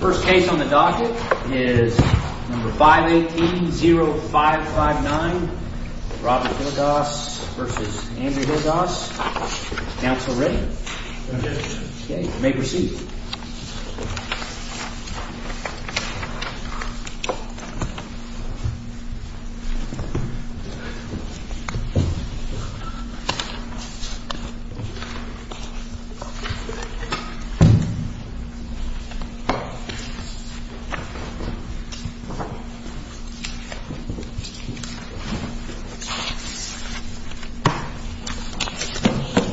First case on the docket is number 518-0559 Robert Hilligoss v. Andrew Hilligoss. Counsel ready? Ready. Okay, you may proceed.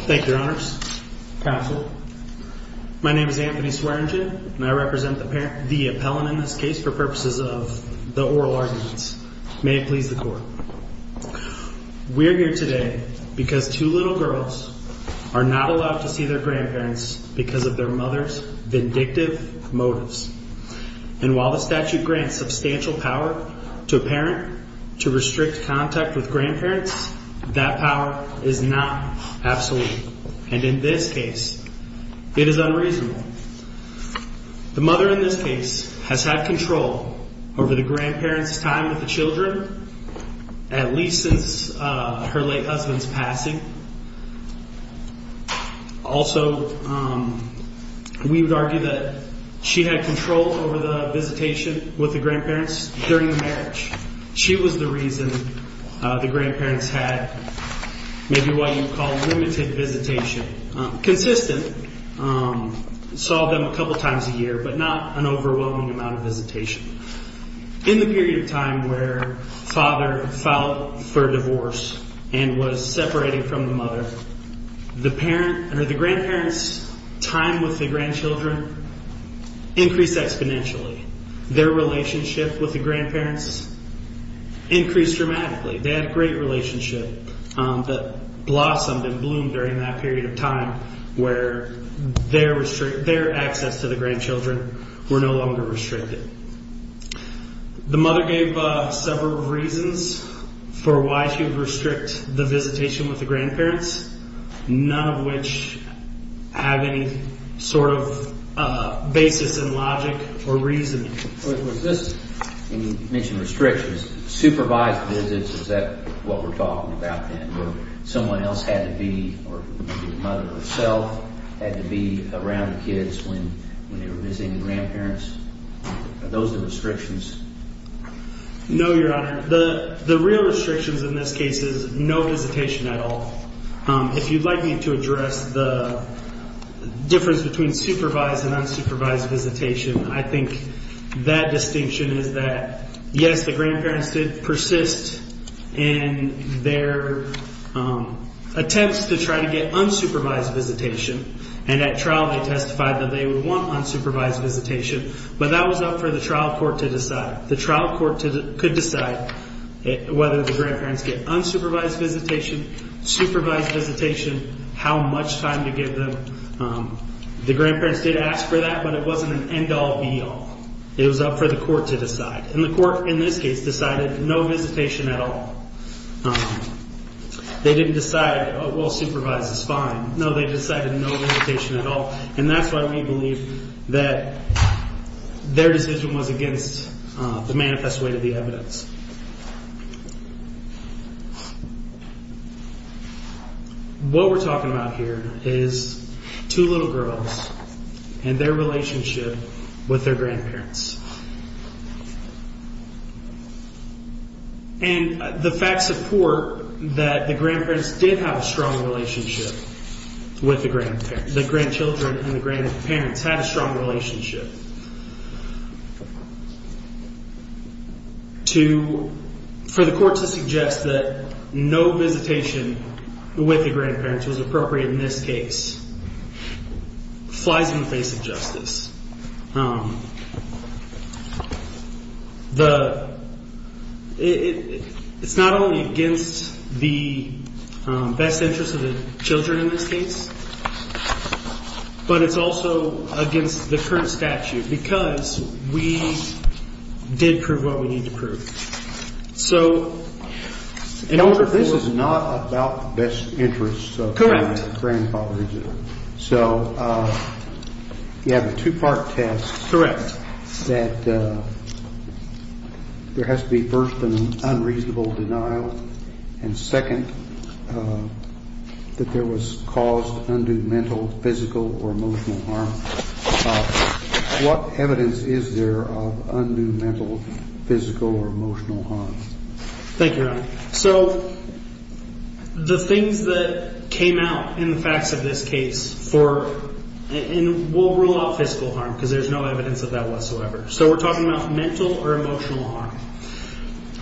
Thank you, your honors. Counsel, my name is Anthony Swearingen and I represent the appellant in this case for purposes of the oral arguments. May it please the court. We're here today because two little girls are not allowed to see their grandparents because of their mother's vindictive motives. And while the statute grants substantial power to a parent to restrict contact with grandparents, that power is not absolute. And in this case, it is unreasonable. The mother in this case has had control over the grandparents' time with the children, at least since her late husband's passing. Also, we would argue that she had control over the visitation with the grandparents during the marriage. She was the reason the grandparents had maybe what you would call limited visitation. Consistent, saw them a couple times a year, but not an overwhelming amount of visitation. In the period of time where father filed for divorce and was separating from the mother, the grandparents' time with the grandchildren increased exponentially. Their relationship with the grandparents increased dramatically. They had a great relationship that blossomed and bloomed during that period of time where their access to the grandchildren were no longer restricted. The mother gave several reasons for why she would restrict the visitation with the grandparents, none of which have any sort of basis in logic or reasoning. Was this, when you mentioned restrictions, supervised visits, is that what we're talking about then? Where someone else had to be, or maybe the mother herself, had to be around the kids when they were visiting the grandparents? Are those the restrictions? No, Your Honor. The real restrictions in this case is no visitation at all. If you'd like me to address the difference between supervised and unsupervised visitation, I think that distinction is that, yes, the grandparents did persist in their attempts to try to get unsupervised visitation. And at trial they testified that they would want unsupervised visitation, but that was up for the trial court to decide. The trial court could decide whether the grandparents get unsupervised visitation, supervised visitation, how much time to give them. The grandparents did ask for that, but it wasn't an end-all, be-all. It was up for the court to decide. And the court in this case decided no visitation at all. They didn't decide, well, supervised is fine. No, they decided no visitation at all. And that's why we believe that their decision was against the manifest way to the evidence. What we're talking about here is two little girls and their relationship with their grandparents. And the facts support that the grandparents did have a strong relationship with the grandparents. The grandchildren and the grandparents had a strong relationship. For the court to suggest that no visitation with the grandparents was appropriate in this case flies in the face of justice. It's not only against the best interest of the children in this case, but it's also against the current statute because we did prove what we need to prove. This is not about the best interests of the grandfathers. Correct. So you have a two-part test. Correct. That there has to be, first, an unreasonable denial, and, second, that there was caused undue mental, physical or emotional harm. What evidence is there of undue mental, physical or emotional harm? Thank you, Your Honor. So the things that came out in the facts of this case for, and we'll rule out physical harm because there's no evidence of that whatsoever. So we're talking about mental or emotional harm.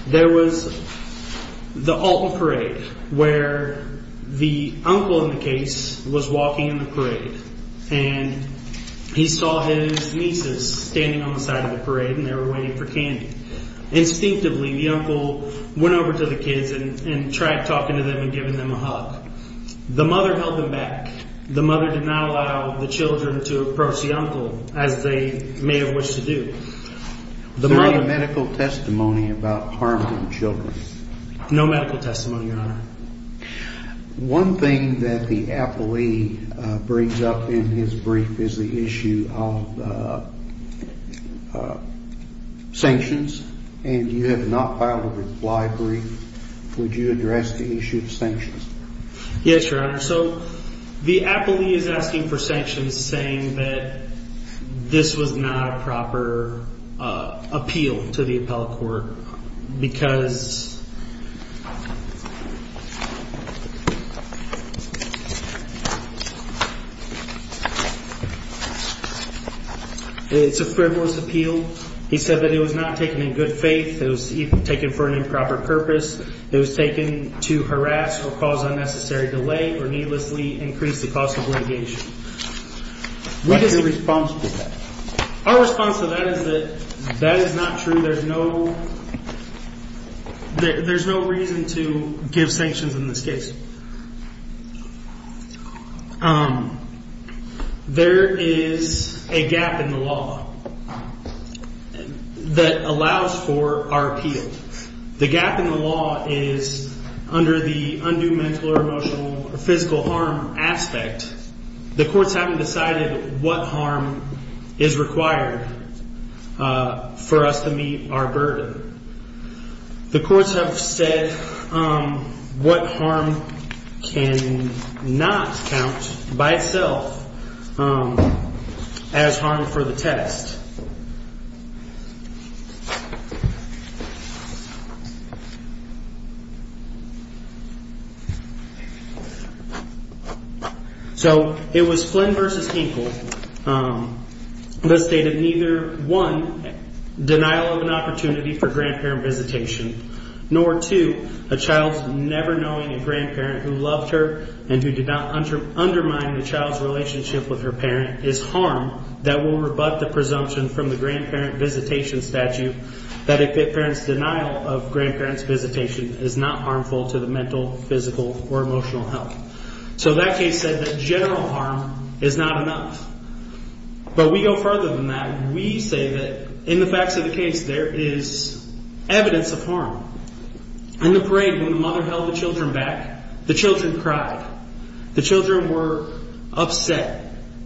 There was the Alton Parade where the uncle in the case was walking in the parade and he saw his nieces standing on the side of the parade and they were waiting for candy. Instinctively, the uncle went over to the kids and tried talking to them and giving them a hug. The mother held them back. The mother did not allow the children to approach the uncle as they may have wished to do. Is there any medical testimony about harm to the children? No medical testimony, Your Honor. One thing that the appellee brings up in his brief is the issue of sanctions, and you have not filed a reply brief. Yes, Your Honor. So the appellee is asking for sanctions saying that this was not a proper appeal to the appellate court because it's a frivolous appeal. He said that it was not taken in good faith. It was taken for an improper purpose. It was taken to harass or cause unnecessary delay or needlessly increase the cost of litigation. What's your response to that? Our response to that is that that is not true. There's no reason to give sanctions in this case. There is a gap in the law that allows for our appeal. The gap in the law is under the undue mental or emotional or physical harm aspect. The courts haven't decided what harm is required for us to meet our burden. The courts have said what harm can not count by itself as harm for the test. So it was Flynn v. Hinkle that stated neither, one, denial of an opportunity for grandparent visitation, nor, two, a child never knowing a grandparent who loved her and who did not undermine the child's relationship with her parent is harm that will rebut the presumption of innocence. It's a presumption from the grandparent visitation statute that a parent's denial of grandparent's visitation is not harmful to the mental, physical, or emotional health. So that case said that general harm is not enough. But we go further than that. We say that in the facts of the case, there is evidence of harm. In the parade, when the mother held the children back, the children cried. The children were upset.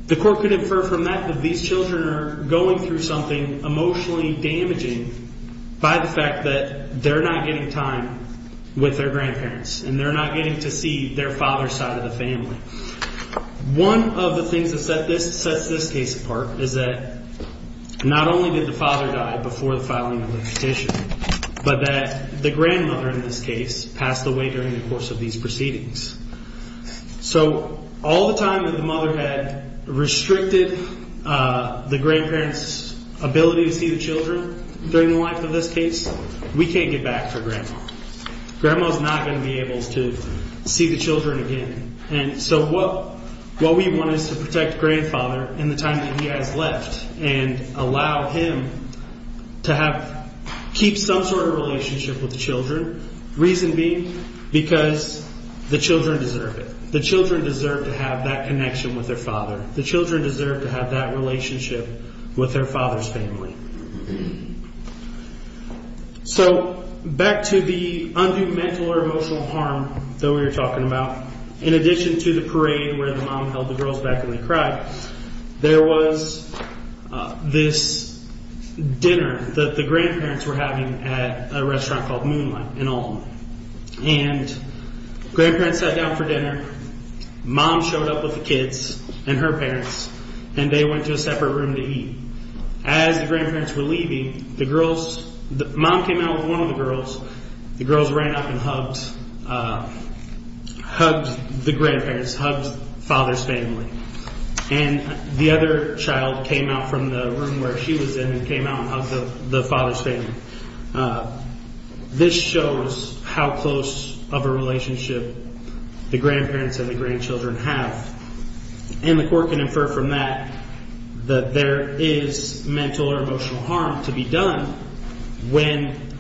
The court could infer from that that these children are going through something emotionally damaging by the fact that they're not getting time with their grandparents. And they're not getting to see their father's side of the family. One of the things that sets this case apart is that not only did the father die before the filing of the petition, but that the grandmother in this case passed away during the course of these proceedings. So all the time that the mother had restricted the grandparent's ability to see the children during the life of this case, we can't get back for grandma. Grandma is not going to be able to see the children again. And so what we want is to protect grandfather in the time that he has left and allow him to keep some sort of relationship with the children. Reason being because the children deserve it. The children deserve to have that connection with their father. The children deserve to have that relationship with their father's family. So back to the undue mental or emotional harm that we were talking about. In addition to the parade where the mom held the girls back and they cried, there was this dinner that the grandparents were having at a restaurant called Moonlight in Alton. And grandparents sat down for dinner. Mom showed up with the kids and her parents, and they went to a separate room to eat. As the grandparents were leaving, the girls, the mom came out with one of the girls. The girls ran up and hugged the grandparents, hugged father's family. And the other child came out from the room where she was in and came out and hugged the father's family. This shows how close of a relationship the grandparents and the grandchildren have. And the court can infer from that that there is mental or emotional harm to be done when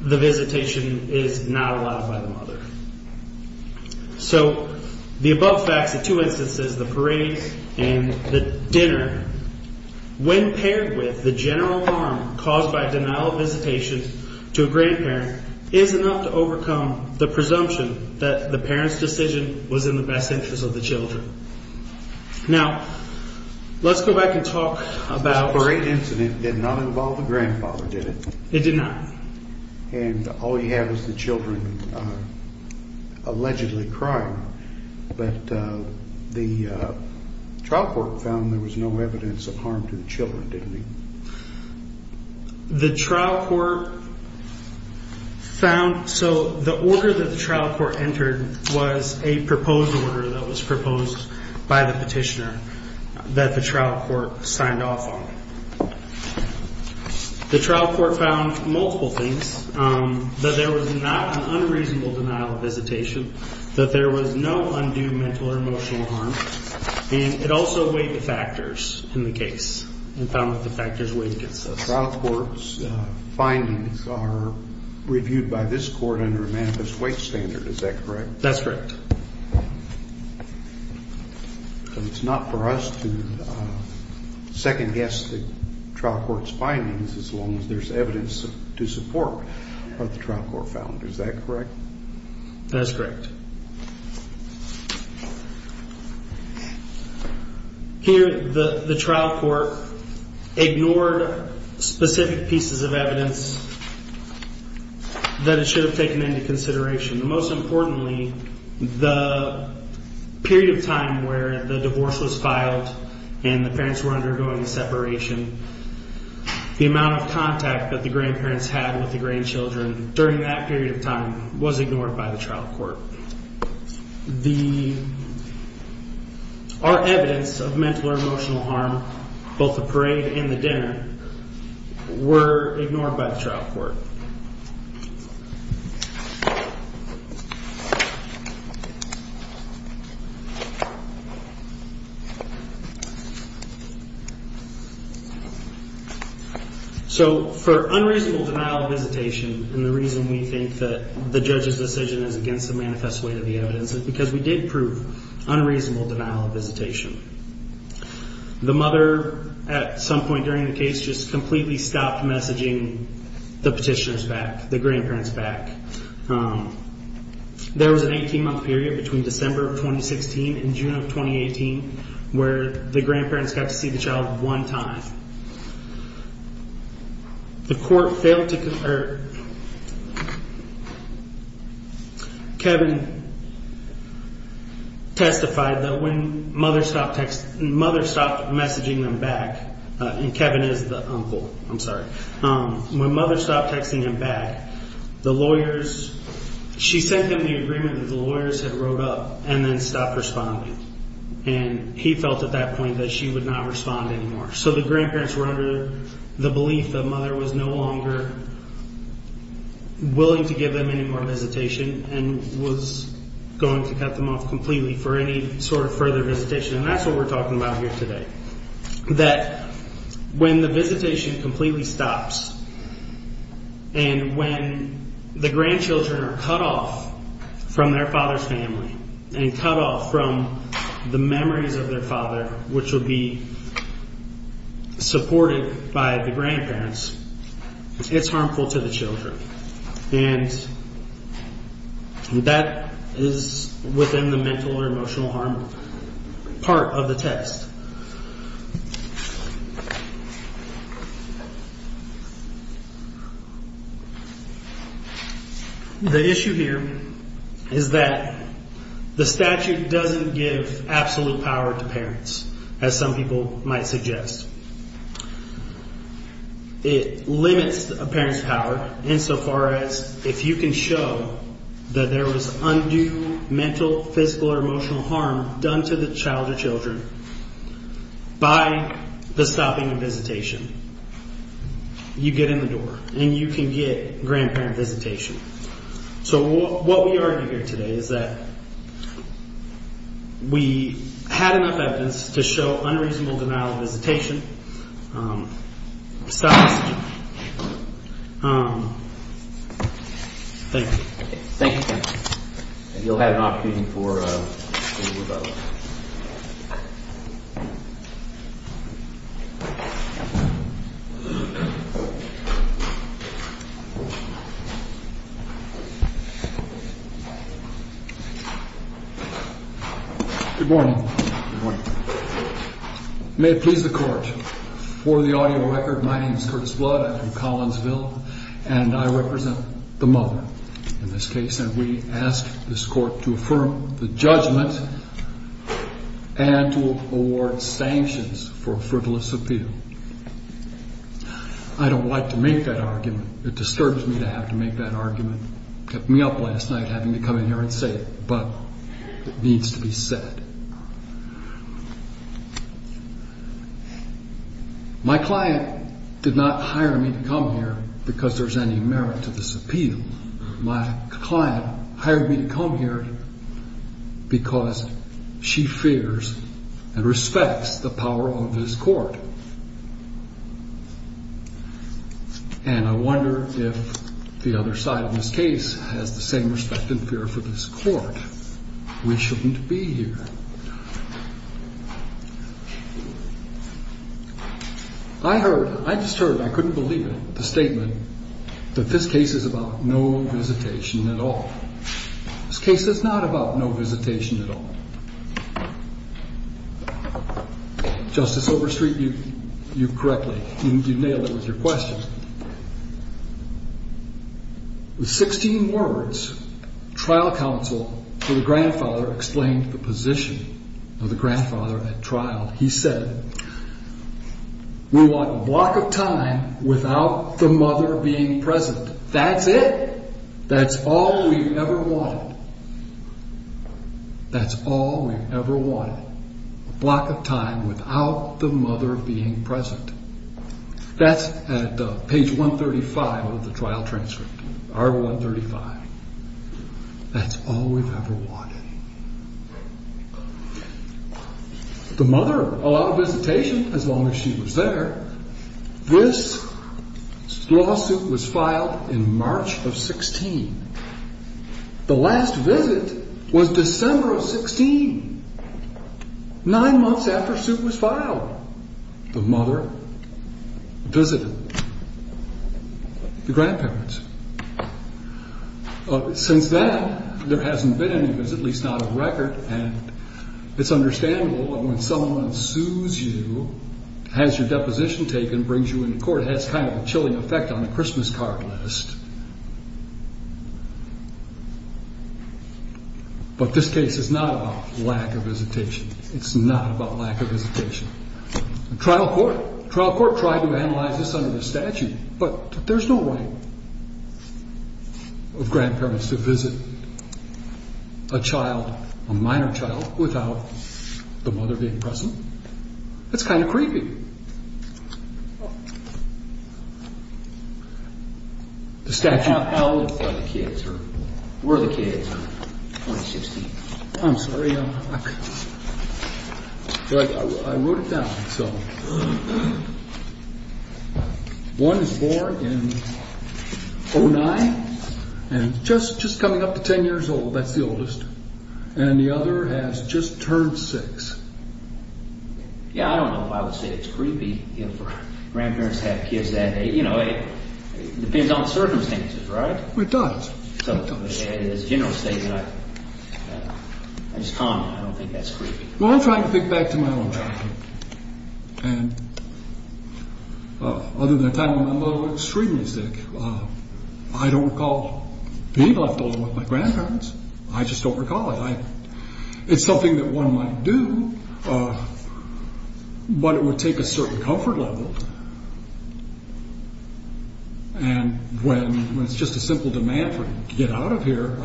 the visitation is not allowed by the mother. So the above facts of two instances, the parade and the dinner, when paired with the general harm caused by denial of visitation to a grandparent, is enough to overcome the presumption that the parent's decision was in the best interest of the children. Now, let's go back and talk about… This parade incident did not involve the grandfather, did it? It did not. And all you have is the children allegedly crying. But the trial court found there was no evidence of harm to the children, didn't it? The trial court found… So the order that the trial court entered was a proposed order that was proposed by the petitioner that the trial court signed off on. The trial court found multiple things, that there was not an unreasonable denial of visitation, that there was no undue mental or emotional harm, and it also weighed the factors in the case and found that the factors weighed against us. The trial court's findings are reviewed by this court under a manifest weight standard, is that correct? That's correct. It's not for us to second-guess the trial court's findings as long as there's evidence to support what the trial court found, is that correct? That's correct. Here, the trial court ignored specific pieces of evidence that it should have taken into consideration. Most importantly, the period of time where the divorce was filed and the parents were undergoing separation, the amount of contact that the grandparents had with the grandchildren during that period of time was ignored by the trial court. Our evidence of mental or emotional harm, both the parade and the dinner, were ignored by the trial court. So, for unreasonable denial of visitation, and the reason we think that the judge's decision is against the manifest weight of the evidence is because we did prove unreasonable denial of visitation. The mother, at some point during the case, just completely stopped messaging the petitioners back, the grandparents back. There was an 18-month period between December of 2016 and June of 2018 where the grandparents got to see the child one time. The court failed to confer. Kevin testified that when mother stopped messaging them back, and Kevin is the uncle, I'm sorry. When mother stopped texting them back, the lawyers, she sent them the agreement that the lawyers had wrote up and then stopped responding. He felt at that point that she would not respond anymore. So, the grandparents were under the belief that mother was no longer willing to give them any more visitation and was going to cut them off completely for any sort of further visitation. That's what we're talking about here today. That when the visitation completely stops and when the grandchildren are cut off from their father's family and cut off from the memories of their father, which would be supported by the grandparents, it's harmful to the children. And that is within the mental or emotional harm part of the test. The issue here is that the statute doesn't give absolute power to parents, as some people might suggest. It limits a parent's power insofar as if you can show that there was undue mental, physical, or emotional harm done to the child or children by the stopping of visitation. You get in the door and you can get grandparent visitation. So, what we argue here today is that we had enough evidence to show unreasonable denial of visitation. Thank you. Thank you, sir. You'll have an opportunity for a rebuttal. Good morning. Good morning. May it please the Court, for the audio record, my name is Curtis Blood. I'm from Collinsville. And I represent the mother in this case. And we ask this Court to affirm the judgment and to award sanctions for frivolous appeal. I don't like to make that argument. It disturbs me to have to make that argument. You kept me up last night having to come in here and say it, but it needs to be said. My client did not hire me to come here because there's any merit to this appeal. My client hired me to come here because she fears and respects the power of this Court. And I wonder if the other side of this case has the same respect and fear for this Court. We shouldn't be here. I heard, I just heard, I couldn't believe it, the statement that this case is about no visitation at all. This case is not about no visitation at all. Justice Overstreet, you correctly, you nailed it with your question. With 16 words, trial counsel to the grandfather explained the position of the grandfather at trial. He said, we want a block of time without the mother being present. That's it. That's all we've ever wanted. That's all we've ever wanted. A block of time without the mother being present. That's at page 135 of the trial transcript. Article 135. That's all we've ever wanted. The mother allowed visitation as long as she was there. This lawsuit was filed in March of 16. The last visit was December of 16, nine months after the suit was filed. The mother visited the grandparents. Since then, there hasn't been any visit, at least not a record. And it's understandable that when someone sues you, has your deposition taken, brings you into court, it has kind of a chilling effect on the Christmas card list. But this case is not about lack of visitation. It's not about lack of visitation. Trial court tried to analyze this under the statute, but there's no right of grandparents to visit a child, a minor child, without the mother being present. That's kind of creepy. The statute... How old are the kids? Where are the kids? I'm sorry, I wrote it down. One is born in 09, and just coming up to 10 years old. That's the oldest. And the other has just turned six. Yeah, I don't know if I would say it's creepy for grandparents to have kids that age. You know, it depends on circumstances, right? It does. So as a general statement, I just comment. I don't think that's creepy. Well, I'm trying to think back to my own childhood. And other than the time when my mother was extremely sick, I don't recall being left alone with my grandparents. I just don't recall it. It's something that one might do, but it would take a certain comfort level. And when it's just a simple demand to get out of here,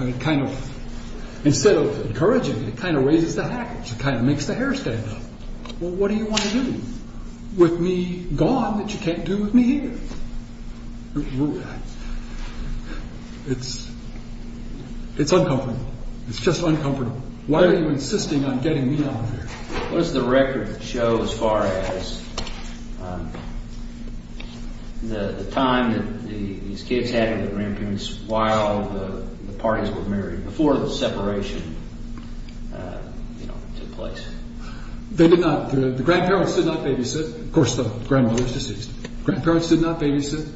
instead of encouraging, it kind of raises the hackers. It kind of makes the hair stand up. Well, what do you want to do with me gone that you can't do with me here? It's uncomfortable. It's just uncomfortable. Why are you insisting on getting me out of here? What does the record show as far as the time that these kids had with their grandparents while the parties were married, before the separation, you know, took place? They did not. The grandparents did not babysit. Of course, the grandmother is deceased. The grandparents did not babysit,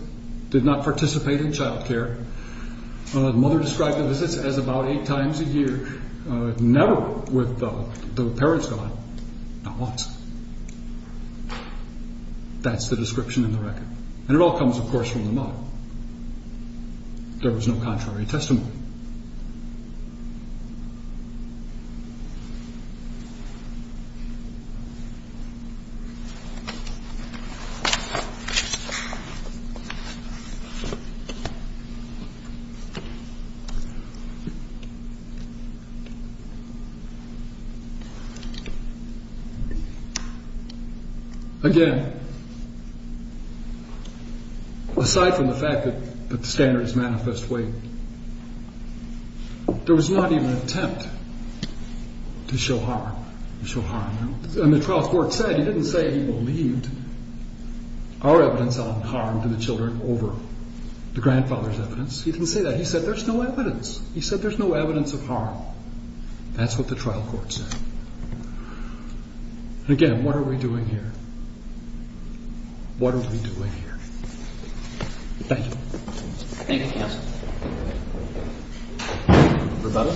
did not participate in child care. The mother described the visits as about eight times a year, never with the parents gone, not once. That's the description in the record. And it all comes, of course, from the mother. There was no contrary testimony. Again, aside from the fact that the standards manifest weight, there was not even an attempt to show harm. And the trial court said he didn't say he believed our evidence on harm to the children over the grandfather's evidence. He didn't say that. He said there's no evidence. He said there's no evidence of harm. That's what the trial court said. Again, what are we doing here? Thank you. Thank you, counsel. Rebecca?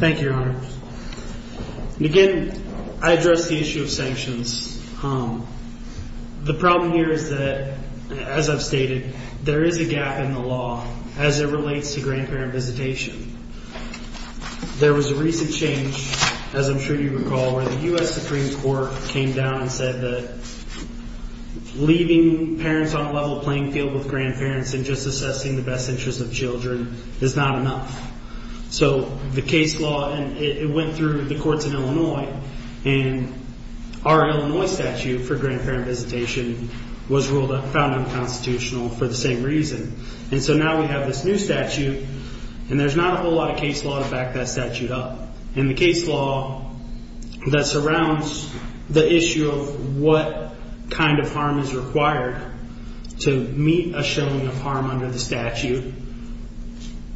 Thank you, Your Honor. Again, I address the issue of sanctions. The problem here is that, as I've stated, there is a gap in the law as it relates to grandparent visitation. There was a recent change, as I'm sure you recall, where the U.S. Supreme Court came down and said that leaving parents on a level playing field with grandparents and just assessing the best interest of children is not enough. So the case law went through the courts in Illinois, and our Illinois statute for grandparent visitation was ruled unconstitutional for the same reason. And so now we have this new statute, and there's not a whole lot of case law to back that statute up. And the case law that surrounds the issue of what kind of harm is required to meet a showing of harm under the statute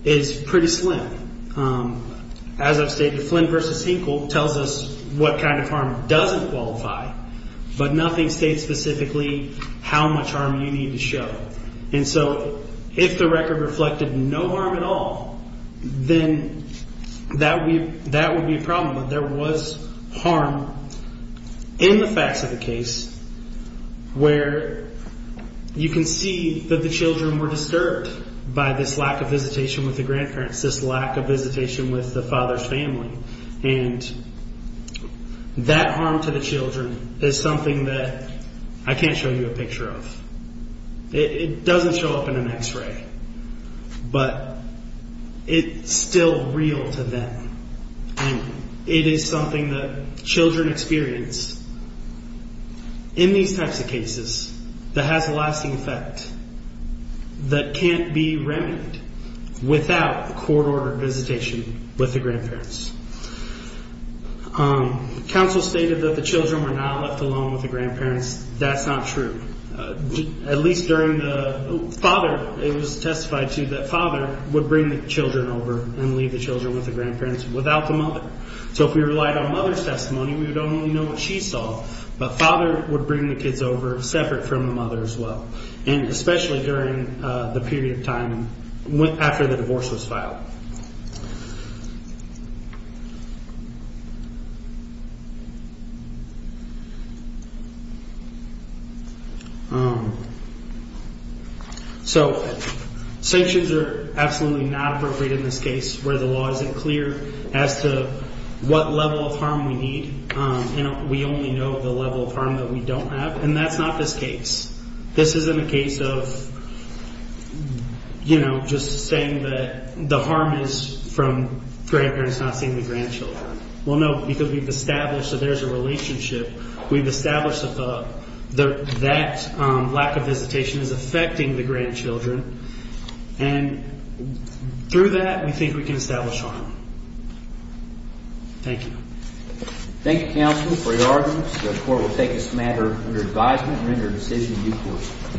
is pretty slim. As I've stated, Flynn v. Hinkle tells us what kind of harm doesn't qualify, but nothing states specifically how much harm you need to show. And so if the record reflected no harm at all, then that would be a problem. But there was harm in the facts of the case where you can see that the children were disturbed by this lack of visitation with the grandparents, this lack of visitation with the father's family. And that harm to the children is something that I can't show you a picture of. It doesn't show up in an X-ray, but it's still real to them. And it is something that children experience in these types of cases that has a lasting effect that can't be remedied without court-ordered visitation with the grandparents. Counsel stated that the children were not left alone with the grandparents. That's not true. At least during the father, it was testified to that father would bring the children over and leave the children with the grandparents without the mother. So if we relied on mother's testimony, we would only know what she saw. But father would bring the kids over separate from the mother as well, and especially during the period of time after the divorce was filed. So sanctions are absolutely not appropriate in this case where the law isn't clear as to what level of harm we need. We only know the level of harm that we don't have, and that's not this case. This isn't a case of, you know, just saying that the harm is from grandparents not seeing the grandchildren. Well, no, because we've established that there's a relationship. We've established that that lack of visitation is affecting the grandchildren. And through that, we think we can establish harm. Thank you. Thank you, counsel, for your arguments. The court will take this matter under advisement and render a decision in due course.